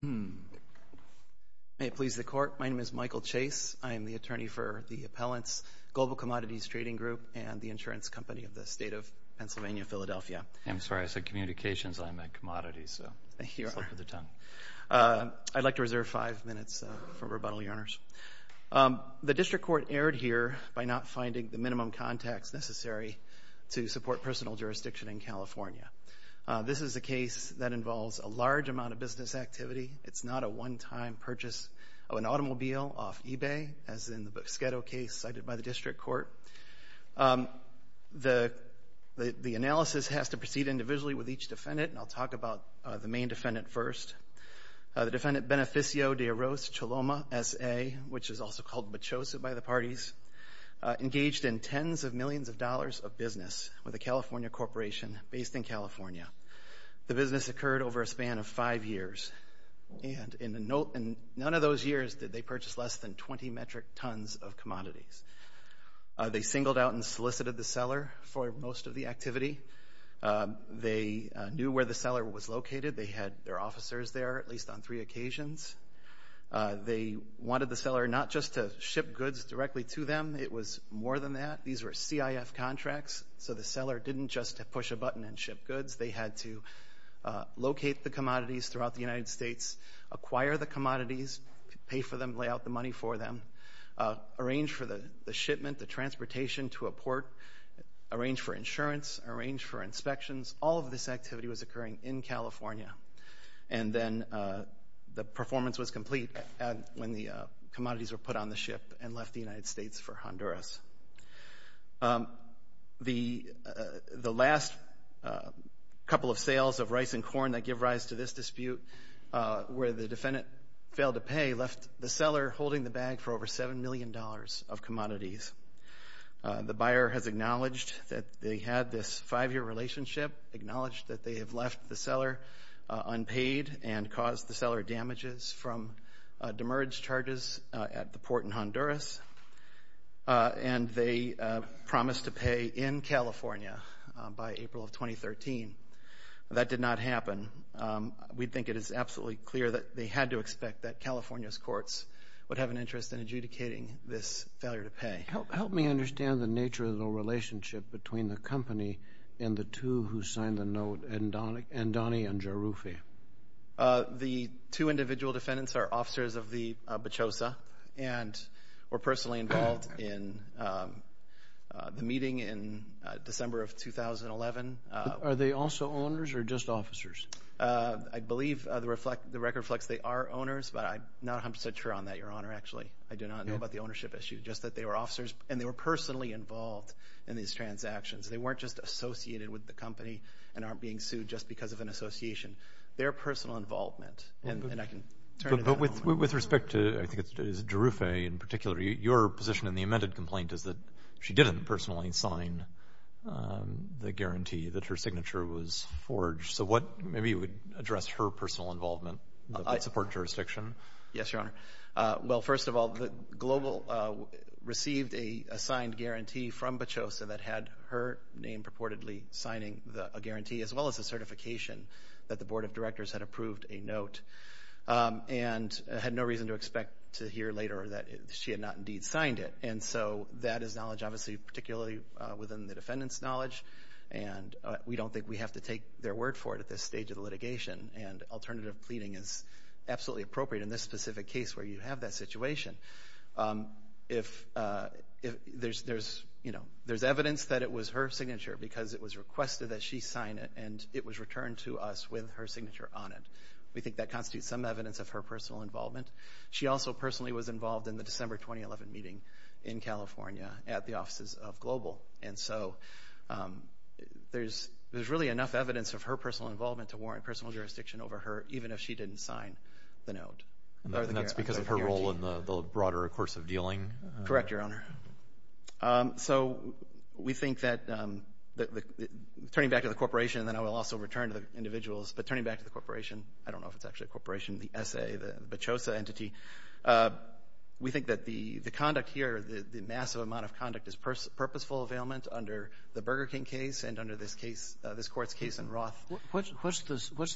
May it please the Court, my name is Michael Chase. I am the attorney for the Appellants Global Commodities Trading Grp. and the insurance company of the State of Pennsylvania, Philadelphia. I'm sorry, I said communications and I meant commodities, so slip of the tongue. I'd like to reserve five minutes for rebuttal, Your Honors. The District Court erred here by not finding the minimum contacts necessary to support personal jurisdiction in California. This is a case that involves a large amount of business activity. It's not a one-time purchase of an automobile off eBay, as in the Busquedo case cited by the District Court. The analysis has to proceed individually with each defendant, and I'll talk about the main defendant first. The defendant, Beneficio De Arroz Choloma, SA, which is also called Mechosa by the parties, engaged in tens of millions of dollars of business with a California corporation based in California. The business occurred over a span of five years, and in none of those years did they purchase less than 20 metric tons of commodities. They singled out and solicited the seller for most of the activity. They knew where the seller was located. They had their officers there at least on three occasions. They wanted the seller not just to ship goods directly to them. It was more than that. These were CIF contracts, so the seller didn't just push a button and ship the commodities throughout the United States, acquire the commodities, pay for them, lay out the money for them, arrange for the shipment, the transportation to a port, arrange for insurance, arrange for inspections. All of this activity was occurring in California, and then the performance was complete when the commodities were put on the ship and left the United States for Honduras. The last couple of sales of rice and corn that give rise to this dispute, where the defendant failed to pay, left the seller holding the bag for over seven million dollars of commodities. The buyer has acknowledged that they had this five-year relationship, acknowledged that they have left the seller unpaid and caused the seller damages from demerged charges at the port in Honduras, and they promised to pay. We think it is absolutely clear that they had to expect that California's courts would have an interest in adjudicating this failure to pay. Help me understand the nature of the relationship between the company and the two who signed the note, Andoni and Jarufi. The two individual defendants are officers of the BOCHOSA, and were personally involved in the meeting in December of 2011. Are they also owners or just officers? I believe the record reflects they are owners, but I'm not 100 percent sure on that, Your Honor, actually. I do not know about the ownership issue, just that they were officers, and they were personally involved in these transactions. They weren't just associated with the company and aren't being sued just because of an association. Their personal involvement, and I can turn to that. With respect to, I think it's Jarufi in particular, your position in the amended complaint is that she didn't personally sign the guarantee that her signature was forged. So what, maybe you would address her personal involvement in the support jurisdiction? Yes, Your Honor. Well, first of all, Global received a signed guarantee from BOCHOSA that had her name purportedly signing a guarantee, as well as a certification that the Board of Directors had approved a note, and had no reason to expect to hear later that she had not indeed signed it. And so that is knowledge, obviously, particularly within the defendant's knowledge, and we don't think we have to take their word for it at this stage of the litigation, and alternative pleading is absolutely appropriate in this specific case where you have that situation. If there's, you know, there's evidence that it was her signature because it was requested that she sign it, and it was returned to us with her signature on it. We think that constitutes some evidence of her personal involvement. She also personally was involved in the December 2011 meeting in California at the offices of Global, and so there's really enough evidence of her personal involvement to warrant personal jurisdiction over her, even if she didn't sign the note. And that's because of her role in the broader course of dealing? Correct, Your Honor. So we think that turning back to the corporation, and then I will also return to the individuals, but turning back to the corporation, I don't know if it's actually the corporation, the S.A., the Bacchosa entity, we think that the conduct here, the massive amount of conduct is purposeful availment under the Burger King case and under this case, this Court's case in Roth. What's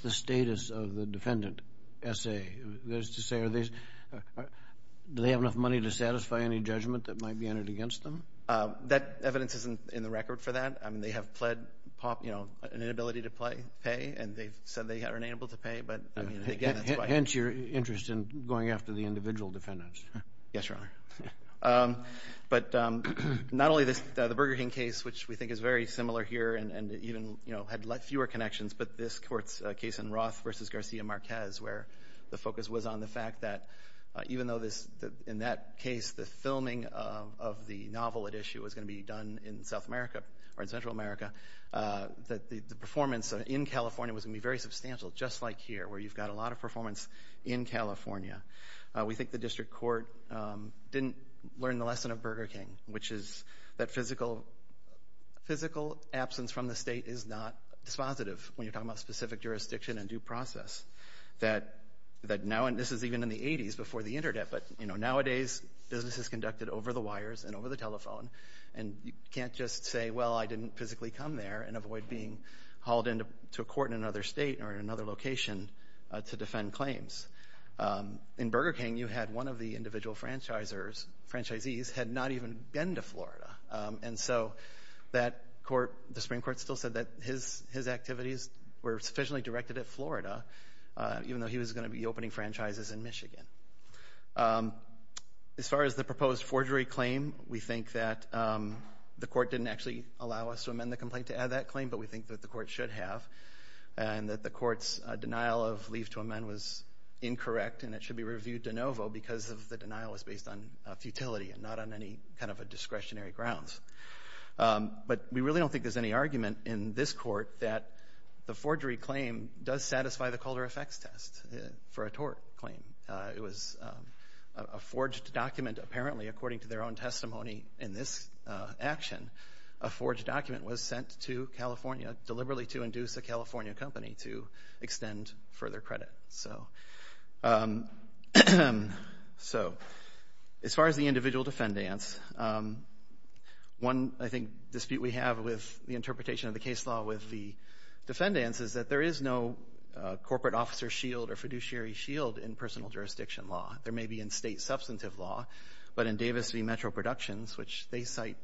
the status of the defendant, S.A.? That is to say, are they, do they have enough money to satisfy any judgment that might be entered against them? That evidence isn't in the record for that. I mean, they have pled, you know, an inability to play, pay, and they've said they are unable to pay, but I mean, again, that's why. Hence your interest in going after the individual defendants. Yes, Your Honor. But not only this, the Burger King case, which we think is very similar here and even, you know, had fewer connections, but this Court's case in Roth versus Garcia Marquez, where the focus was on the fact that even though this, in that case, the filming of the novel at issue was going to be done in South America, or in Central America, that the performance in California was going to be very substantial, just like here, where you've got a lot of performance in California. We think the District Court didn't learn the lesson of Burger King, which is that physical absence from the State is not dispositive when you're talking about specific jurisdiction and due process. That now, and this is even in the 80s, before the Internet, but, you know, nowadays, business is conducted over the wires and over the telephone, and you can't just say, well, I didn't physically come there and avoid being hauled into a court in another state or in another location to defend claims. In Burger King, you had one of the individual franchisees had not even been to Florida, and so that Court, the Supreme Court, still said that his activities were sufficiently directed at Florida, even though he was going to be opening franchises in Michigan. As far as the proposed forgery claim, we think that the Court didn't actually allow us to amend the complaint to add that claim, but we think that the Court should have, and that the Court's denial of leave to amend was incorrect, and it should be reviewed de novo, because of the denial was based on futility and not on any kind of a discretionary grounds. But we really don't think there's any argument in this Court that the forgery claim does A forged document, apparently, according to their own testimony in this action, a forged document was sent to California deliberately to induce a California company to extend further credit. So as far as the individual defendants, one, I think, dispute we have with the interpretation of the case law with the defendants is that there is no corporate officer shield or fiduciary shield in personal jurisdiction law. There may be in state substantive law, but in Davis v. Metro Productions, which they cite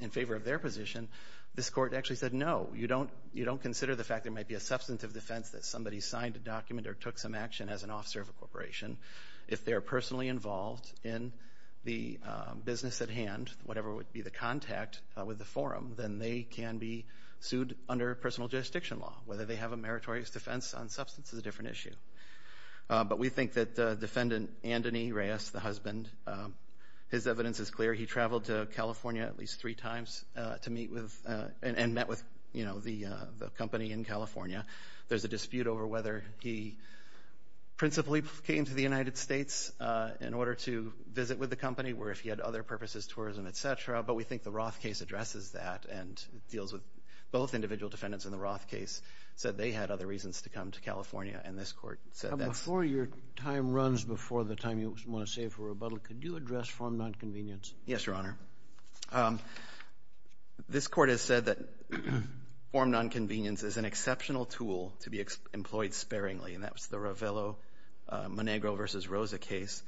in favor of their position, this Court actually said, no, you don't consider the fact there might be a substantive defense that somebody signed a document or took some action as an officer of a corporation. If they're personally involved in the business at hand, whatever would be the contact with the forum, then they can be sued under personal jurisdiction law, whether they have a meritorious defense on substance is a different issue. But we think that Defendant Anthony Reyes, the husband, his evidence is clear. He traveled to California at least three times to meet with and met with the company in California. There's a dispute over whether he principally came to the United States in order to visit with the company, or if he had other purposes, tourism, et cetera. But we think the Roth case addresses that and deals with both individual defendants and the Roth case said they had other reasons to come to California, and this Court said that. Before your time runs before the time you want to save for rebuttal, could you address form nonconvenience? Yes, Your Honor. This Court has said that form nonconvenience is an exceptional tool to be employed sparingly, and that was the Ravello-Monegro v. Rosa case.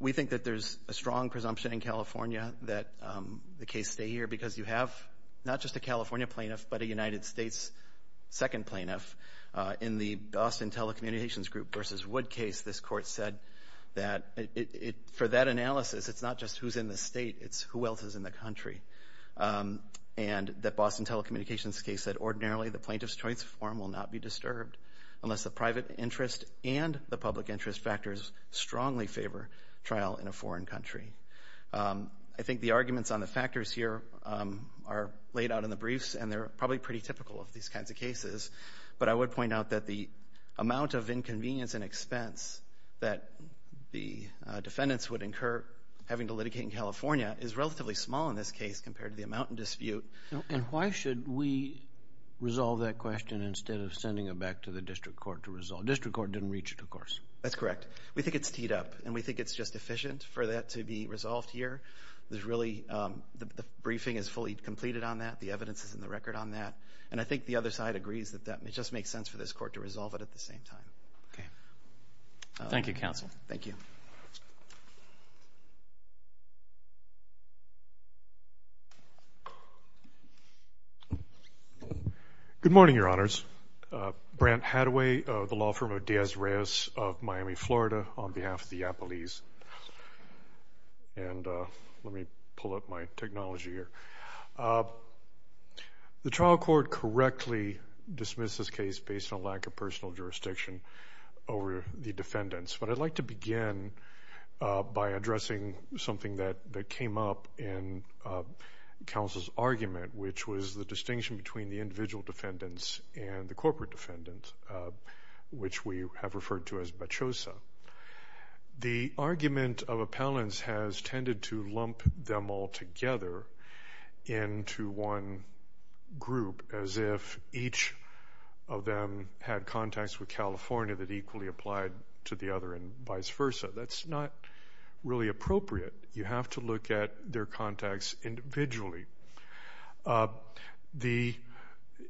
We think that there's a strong presumption in California that the case stay here because you have not just a California plaintiff, but a United States second plaintiff. In the Boston Telecommunications Group v. Wood case, this Court said that for that analysis, it's not just who's in the state, it's who else is in the country. And the Boston Telecommunications case said, ordinarily, the plaintiff's choice form will not be disturbed unless the private interest and the public interest factors strongly favor trial in a foreign country. I think the arguments on the factors here are laid out in the briefs, and they're probably pretty typical of these kinds of cases. But I would point out that the amount of inconvenience and expense that the defendants would incur having to litigate in California is relatively small in this case compared to the amount in dispute. And why should we resolve that question instead of sending it back to the District Court to resolve it? The District Court didn't reach it, of course. That's correct. We think it's teed up, and we think it's just efficient for that to be resolved here. The briefing is fully completed on that. The evidence is in the record on that. And I think the other side agrees that it just makes sense for this Court to resolve it at the same time. Thank you, Counsel. Thank you. Good morning, Your Honors. Brent Hadaway of the Law Firm of Diaz-Reyes of Miami, Florida, on behalf of the Yapalese. And let me pull up my technology here. The trial court correctly dismissed this case based on a lack of personal jurisdiction over the defendants. But I'd like to begin by addressing something that came up in Counsel's argument, which was the distinction between the individual defendants and the corporate defendants, which we have referred to as bachosa. The argument of appellants has tended to lump them all together into one group, as if each of them had contacts with California that equally applied to the other and vice versa. That's not really appropriate. You have to look at their contacts individually.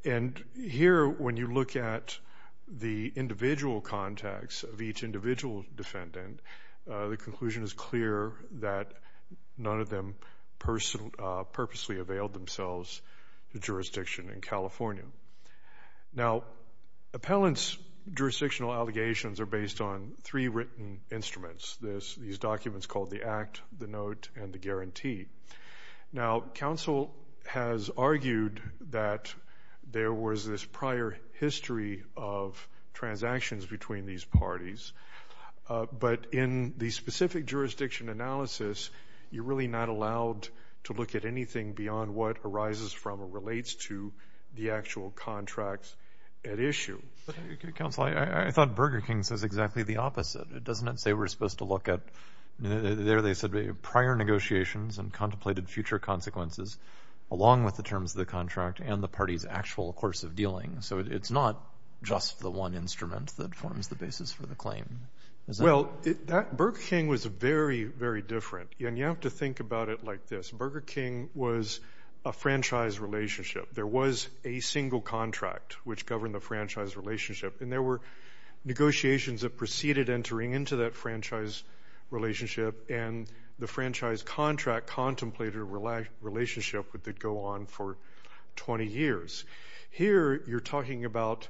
And here, when you look at the individual contacts of each individual defendant, the conclusion is clear that none of them purposely availed themselves to jurisdiction in California. Now, appellants' jurisdictional allegations are based on three written instruments. These documents called the Act, the Note, and the Guarantee. Now, Counsel has argued that there was this prior history of transactions between these parties. But in the specific jurisdiction analysis, you're really not allowed to look at anything beyond what arises from or relates to the actual contracts at issue. Counsel, I thought Burger King says exactly the opposite. It doesn't say we're supposed to look at, there they said, prior negotiations and contemplated future consequences, along with the terms of the contract and the party's actual course of dealing. So, it's not just the one instrument that forms the basis for the claim, is that right? Well, Burger King was very, very different, and you have to think about it like this. Burger King was a franchise relationship. There was a single contract which governed the franchise relationship, and there were others entering into that franchise relationship, and the franchise contract contemplated a relationship that would go on for 20 years. Here you're talking about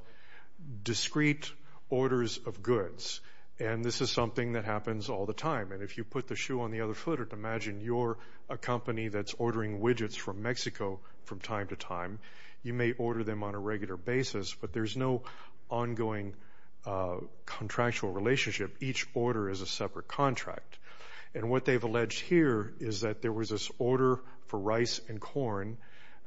discrete orders of goods, and this is something that happens all the time. And if you put the shoe on the other foot, imagine you're a company that's ordering widgets from Mexico from time to time. You may order them on a regular basis, but there's no ongoing contractual relationship each order is a separate contract. And what they've alleged here is that there was this order for rice and corn,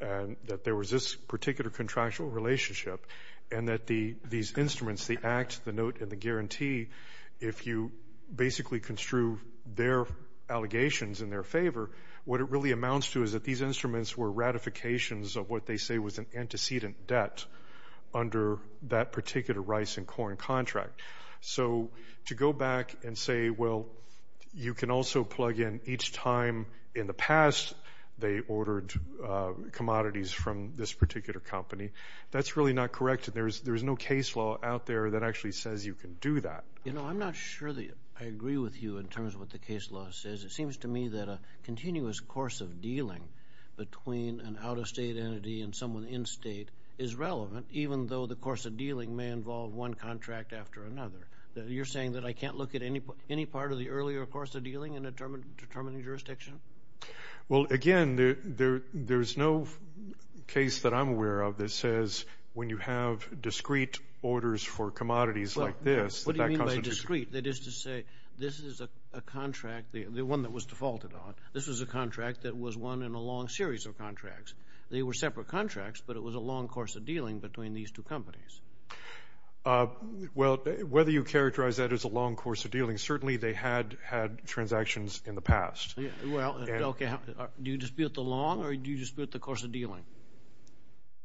and that there was this particular contractual relationship, and that these instruments, the Act, the Note, and the Guarantee, if you basically construe their allegations in their favor, what it really amounts to is that these instruments were ratifications of what they say was an antecedent debt under that particular rice and corn contract. So to go back and say, well, you can also plug in each time in the past they ordered commodities from this particular company, that's really not correct, and there's no case law out there that actually says you can do that. You know, I'm not sure that I agree with you in terms of what the case law says. It seems to me that a continuous course of dealing between an out-of-state entity and someone in-state is relevant, even though the course of dealing may involve one contract after another. You're saying that I can't look at any part of the earlier course of dealing in a determining jurisdiction? Well, again, there's no case that I'm aware of that says, when you have discrete orders for commodities like this, that that constitutes... What do you mean by discrete? That is to say, this is a contract, the one that was defaulted on, this was a contract that was one in a long series of contracts. They were separate contracts, but it was a long course of dealing between these two companies. Well, whether you characterize that as a long course of dealing, certainly they had had transactions in the past. Well, okay. Do you dispute the long, or do you dispute the course of dealing?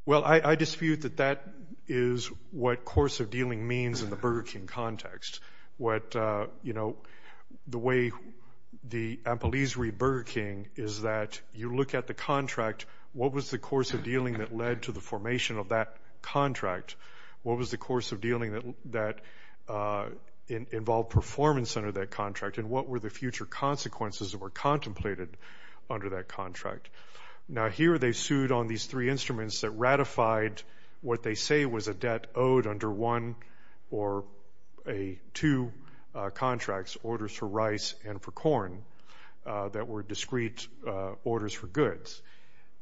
Well, I dispute that that is what course of dealing means in the Burger King context. What, you know, the way the employees read Burger King is that you look at the contract, what was the course of dealing that led to the formation of that contract? What was the course of dealing that involved performance under that contract, and what were the future consequences that were contemplated under that contract? Now, here they sued on these three instruments that ratified what they say was a debt owed under one or two contracts, orders for rice and for corn, that were discrete orders for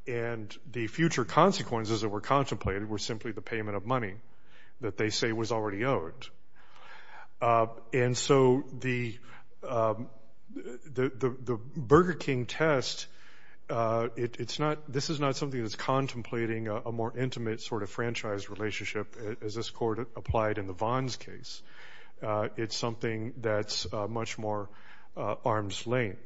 and the future consequences that were contemplated were simply the payment of money that they say was already owed. And so the Burger King test, it's not, this is not something that's contemplating a more intimate sort of franchise relationship as this court applied in the Vons case. It's something that's much more arm's length.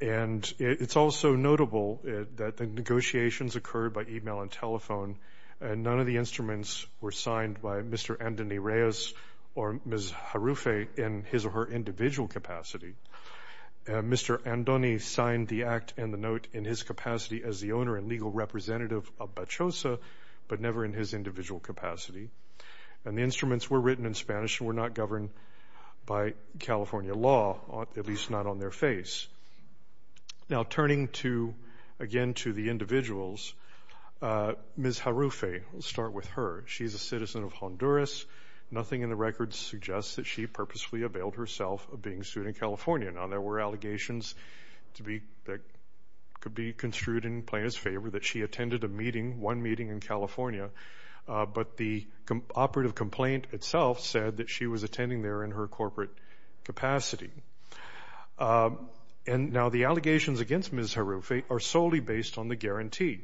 And it's also notable that the negotiations occurred by email and telephone, and none of the instruments were signed by Mr. Andoni Reyes or Ms. Jarruffe in his or her individual capacity. Mr. Andoni signed the act and the note in his capacity as the owner and legal representative of Bachosa, but never in his individual capacity. And the instruments were written in Spanish and were not governed by California law, at least not on their face. Now turning to, again, to the individuals, Ms. Jarruffe, we'll start with her. She's a citizen of Honduras. Nothing in the records suggests that she purposefully availed herself of being sued in California. Now there were allegations to be, that could be construed in plaintiff's favor that she attended a meeting, one meeting in California, but the operative complaint itself said that she was attending there in her corporate capacity. And now the allegations against Ms. Jarruffe are solely based on the guarantee,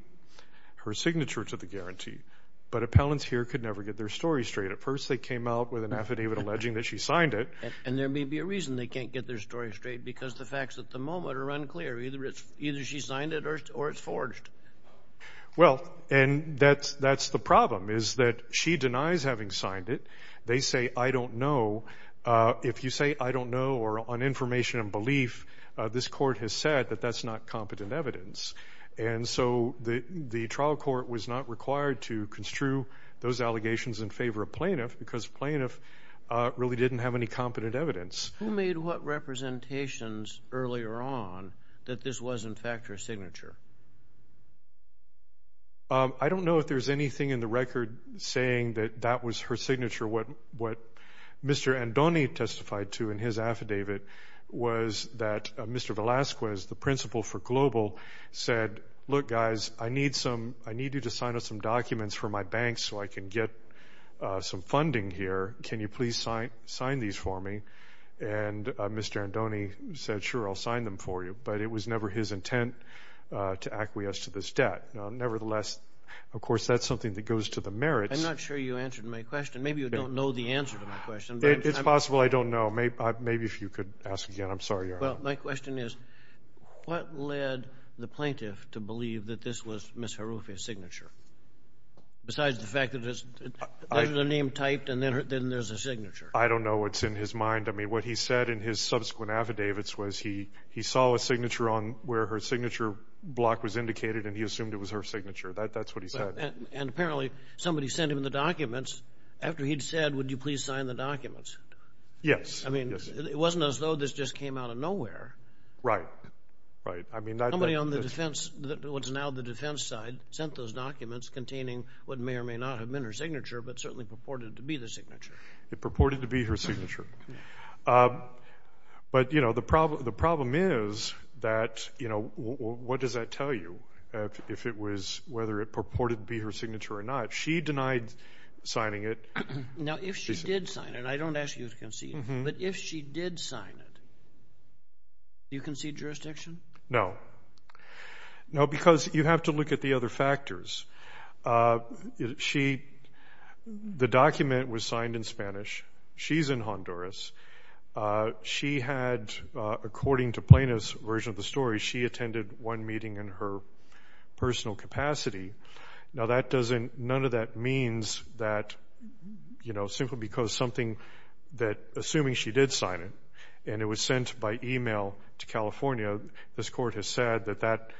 her signature to the guarantee. But appellants here could never get their story straight. At first they came out with an affidavit alleging that she signed it. And there may be a reason they can't get their story straight, because the facts at the moment are unclear. Either she signed it or it's forged. Well and that's the problem, is that she denies having signed it. They say, I don't know. If you say, I don't know, or on information and belief, this court has said that that's not competent evidence. And so the trial court was not required to construe those allegations in favor of plaintiff because plaintiff really didn't have any competent evidence. Who made what representations earlier on that this was in fact her signature? I don't know if there's anything in the record saying that that was her signature. What Mr. Andoni testified to in his affidavit was that Mr. Velasquez, the principal for Global said, look guys, I need you to sign up some documents for my bank so I can get some funding here. Can you please sign these for me? And Mr. Andoni said, sure, I'll sign them for you. But it was never his intent to acquiesce to this debt. Nevertheless, of course, that's something that goes to the merits. I'm not sure you answered my question. Maybe you don't know the answer to my question. It's possible I don't know. Maybe if you could ask again. I'm sorry, Your Honor. Well, my question is, what led the plaintiff to believe that this was Ms. Harufi's signature? Besides the fact that there's a name typed and then there's a signature. I don't know what's in his mind. I mean, what he said in his subsequent affidavits was he saw a signature on where her signature block was indicated and he assumed it was her signature. That's what he said. And apparently, somebody sent him the documents after he'd said, would you please sign the documents? Yes. I mean, it wasn't as though this just came out of nowhere. Right. Right. Somebody on the defense, what's now the defense side, sent those documents containing what may or may not have been her signature, but certainly purported to be the signature. It purported to be her signature. But you know, the problem is that, you know, what does that tell you if it was whether it purported to be her signature or not? She denied signing it. Now, if she did sign it, I don't ask you to concede, but if she did sign it, do you concede jurisdiction? No. No, because you have to look at the other factors. She, the document was signed in Spanish. She's in Honduras. She had, according to Plano's version of the story, she attended one meeting in her personal capacity. Now, that doesn't, none of that means that, you know, simply because something that, assuming she did sign it and it was sent by email to California, this court has said that that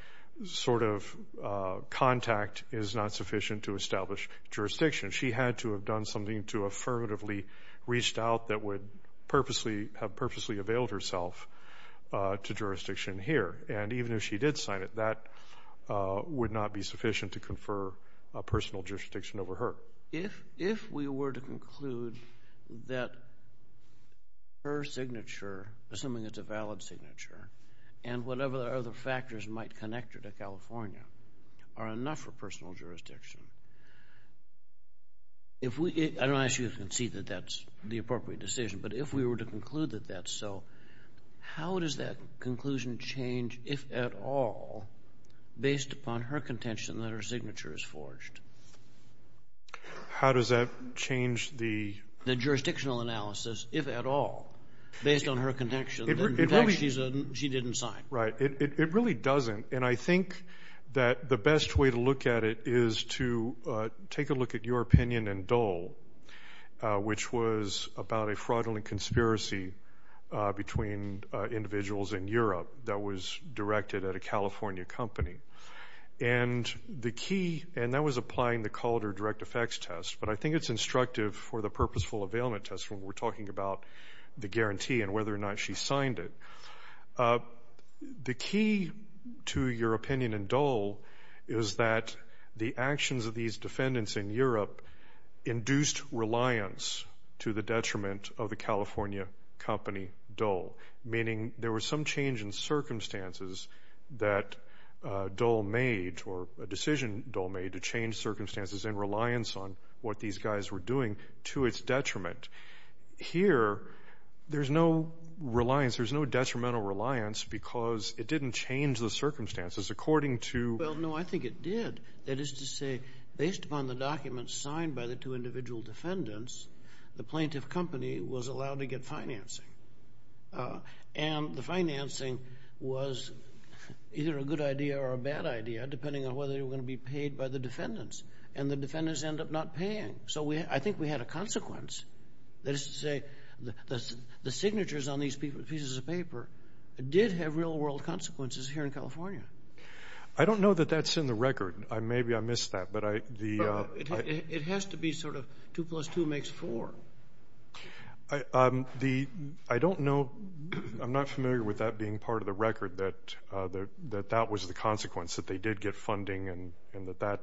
sort of contact is not sufficient to establish jurisdiction. She had to have done something to affirmatively reached out that would purposely, have purposely availed herself to jurisdiction here. And even if she did sign it, that would not be sufficient to confer personal jurisdiction over her. If we were to conclude that her signature, assuming it's a valid signature, and whatever other factors might connect her to California, are enough for personal jurisdiction. If we, I don't ask you to concede that that's the appropriate decision, but if we were to conclude that that's so, how does that conclusion change, if at all, based upon her contention that her signature is forged? How does that change the... The jurisdictional analysis, if at all, based on her contention that, in fact, she didn't sign? Right. It really doesn't. And I think that the best way to look at it is to take a look at your opinion in Dole, which was about a fraudulent conspiracy between individuals in Europe that was directed at a California company. And the key, and that was applying the Calder Direct Effects Test, but I think it's instructive for the Purposeful Availment Test when we're talking about the guarantee and whether or not she signed it. The key to your opinion in Dole is that the actions of these defendants in Europe induced reliance to the detriment of the California company, Dole, meaning there was some change in circumstances that Dole made, or a decision Dole made to change circumstances in reliance on what these guys were doing to its detriment. Here, there's no reliance, there's no detrimental reliance because it didn't change the circumstances according to... Well, no, I think it did. That is to say, based upon the documents signed by the two individual defendants, the plaintiff company was allowed to get financing. And the financing was either a good idea or a bad idea, depending on whether they were going to be paid by the defendants. And the defendants end up not paying. So I think we had a consequence, that is to say, the signatures on these pieces of paper did have real-world consequences here in California. I don't know that that's in the record. Maybe I missed that, but I... It has to be sort of two plus two makes four. I don't know... I'm not familiar with that being part of the record, that that was the consequence, that they did get funding and that that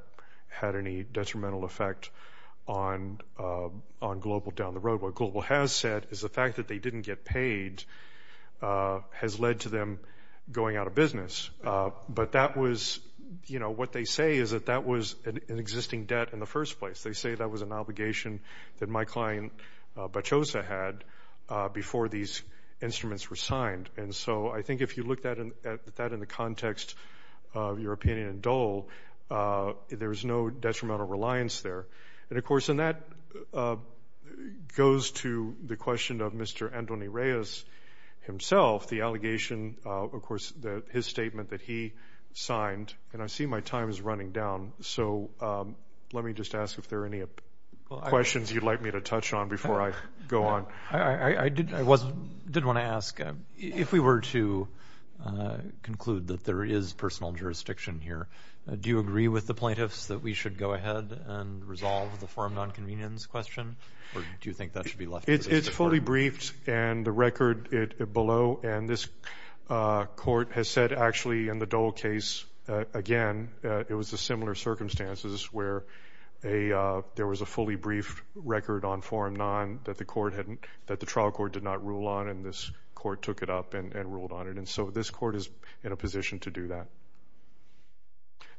had any detrimental effect on Global down the road. What Global has said is the fact that they didn't get paid has led to them going out of business. But that was... What they say is that that was an existing debt in the first place. They say that was an obligation that my client Bacchosa had before these instruments were signed. And so I think if you look at that in the context of European and Dole, there is no detrimental reliance there. And of course, and that goes to the question of Mr. Antoni Reyes himself, the allegation, of course, that his statement that he signed, and I see my time is running down. So let me just ask if there are any questions you'd like me to touch on before I go on. I did want to ask, if we were to conclude that there is personal jurisdiction here, do you agree with the plaintiffs that we should go ahead and resolve the forum non-convenience question? Or do you think that should be left? It's fully briefed and the record below. And this court has said actually in the Dole case, again, it was a similar circumstances where there was a fully briefed record on forum non that the trial court did not rule on and this court took it up and ruled on it. And so this court is in a position to do that.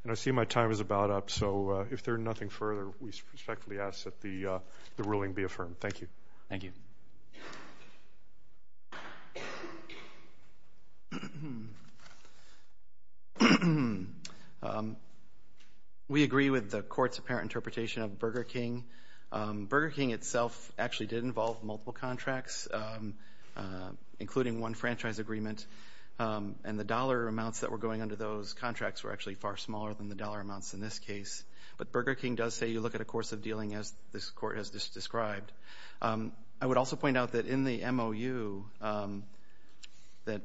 And I see my time is about up. So if there are nothing further, we respectfully ask that the ruling be affirmed. Thank you. Thank you. Thank you. We agree with the court's apparent interpretation of Burger King. Burger King itself actually did involve multiple contracts, including one franchise agreement. And the dollar amounts that were going under those contracts were actually far smaller than the dollar amounts in this case. But Burger King does say you look at a course of dealing as this court has just described. I would also point out that in the MOU that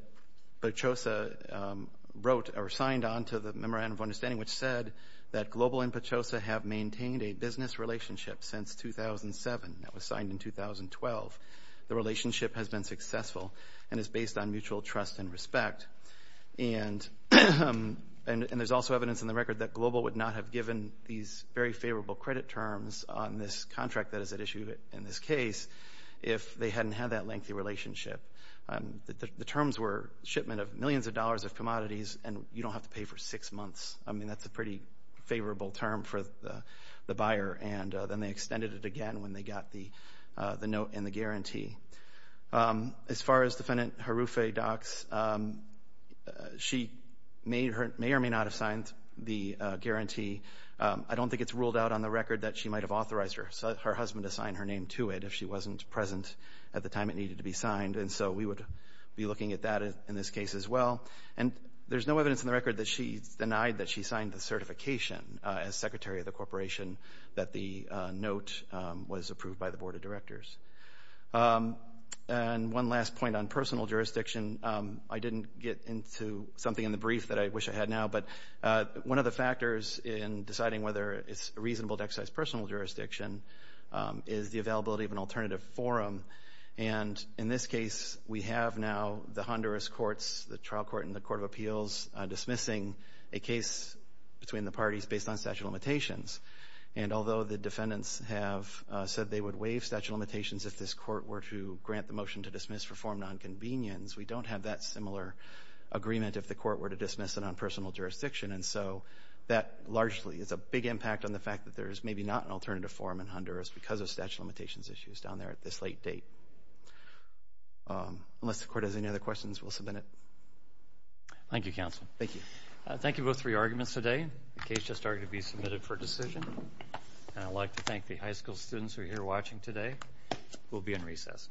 Pachosa wrote or signed on to the Memorandum of Understanding, which said that Global and Pachosa have maintained a business relationship since 2007. That was signed in 2012. The relationship has been successful and is based on mutual trust and respect. And there's also evidence in the record that Global would not have given these very favorable credit terms on this contract that is at issue in this case if they hadn't had that lengthy relationship. The terms were shipment of millions of dollars of commodities, and you don't have to pay for six months. I mean, that's a pretty favorable term for the buyer. And then they extended it again when they got the note and the guarantee. As far as Defendant Harufi docs, she may or may not have signed the guarantee. I don't think it's ruled out on the record that she might have authorized her husband to sign her name to it if she wasn't present at the time it needed to be signed. And so we would be looking at that in this case as well. And there's no evidence in the record that she denied that she signed the certification as Secretary of the Corporation that the note was approved by the Board of Directors. And one last point on personal jurisdiction. I didn't get into something in the brief that I wish I had now. But one of the factors in deciding whether it's reasonable to exercise personal jurisdiction is the availability of an alternative forum. And in this case, we have now the Honduras courts, the trial court and the Court of Appeals dismissing a case between the parties based on statute of limitations. And although the defendants have said they would waive statute of limitations if this court were to grant the motion to dismiss for form of nonconvenience, we don't have that similar agreement if the court were to dismiss it on personal jurisdiction. And so that largely is a big impact on the fact that there is maybe not an alternative forum in Honduras because of statute of limitations issues down there at this late date. Unless the court has any other questions, we'll submit it. Thank you, counsel. Thank you. Thank you both for your arguments today. The case just started to be submitted for decision. And I'd like to thank the high school students who are here watching today. We'll be in recess. All rise. The case is submitted. Thank you.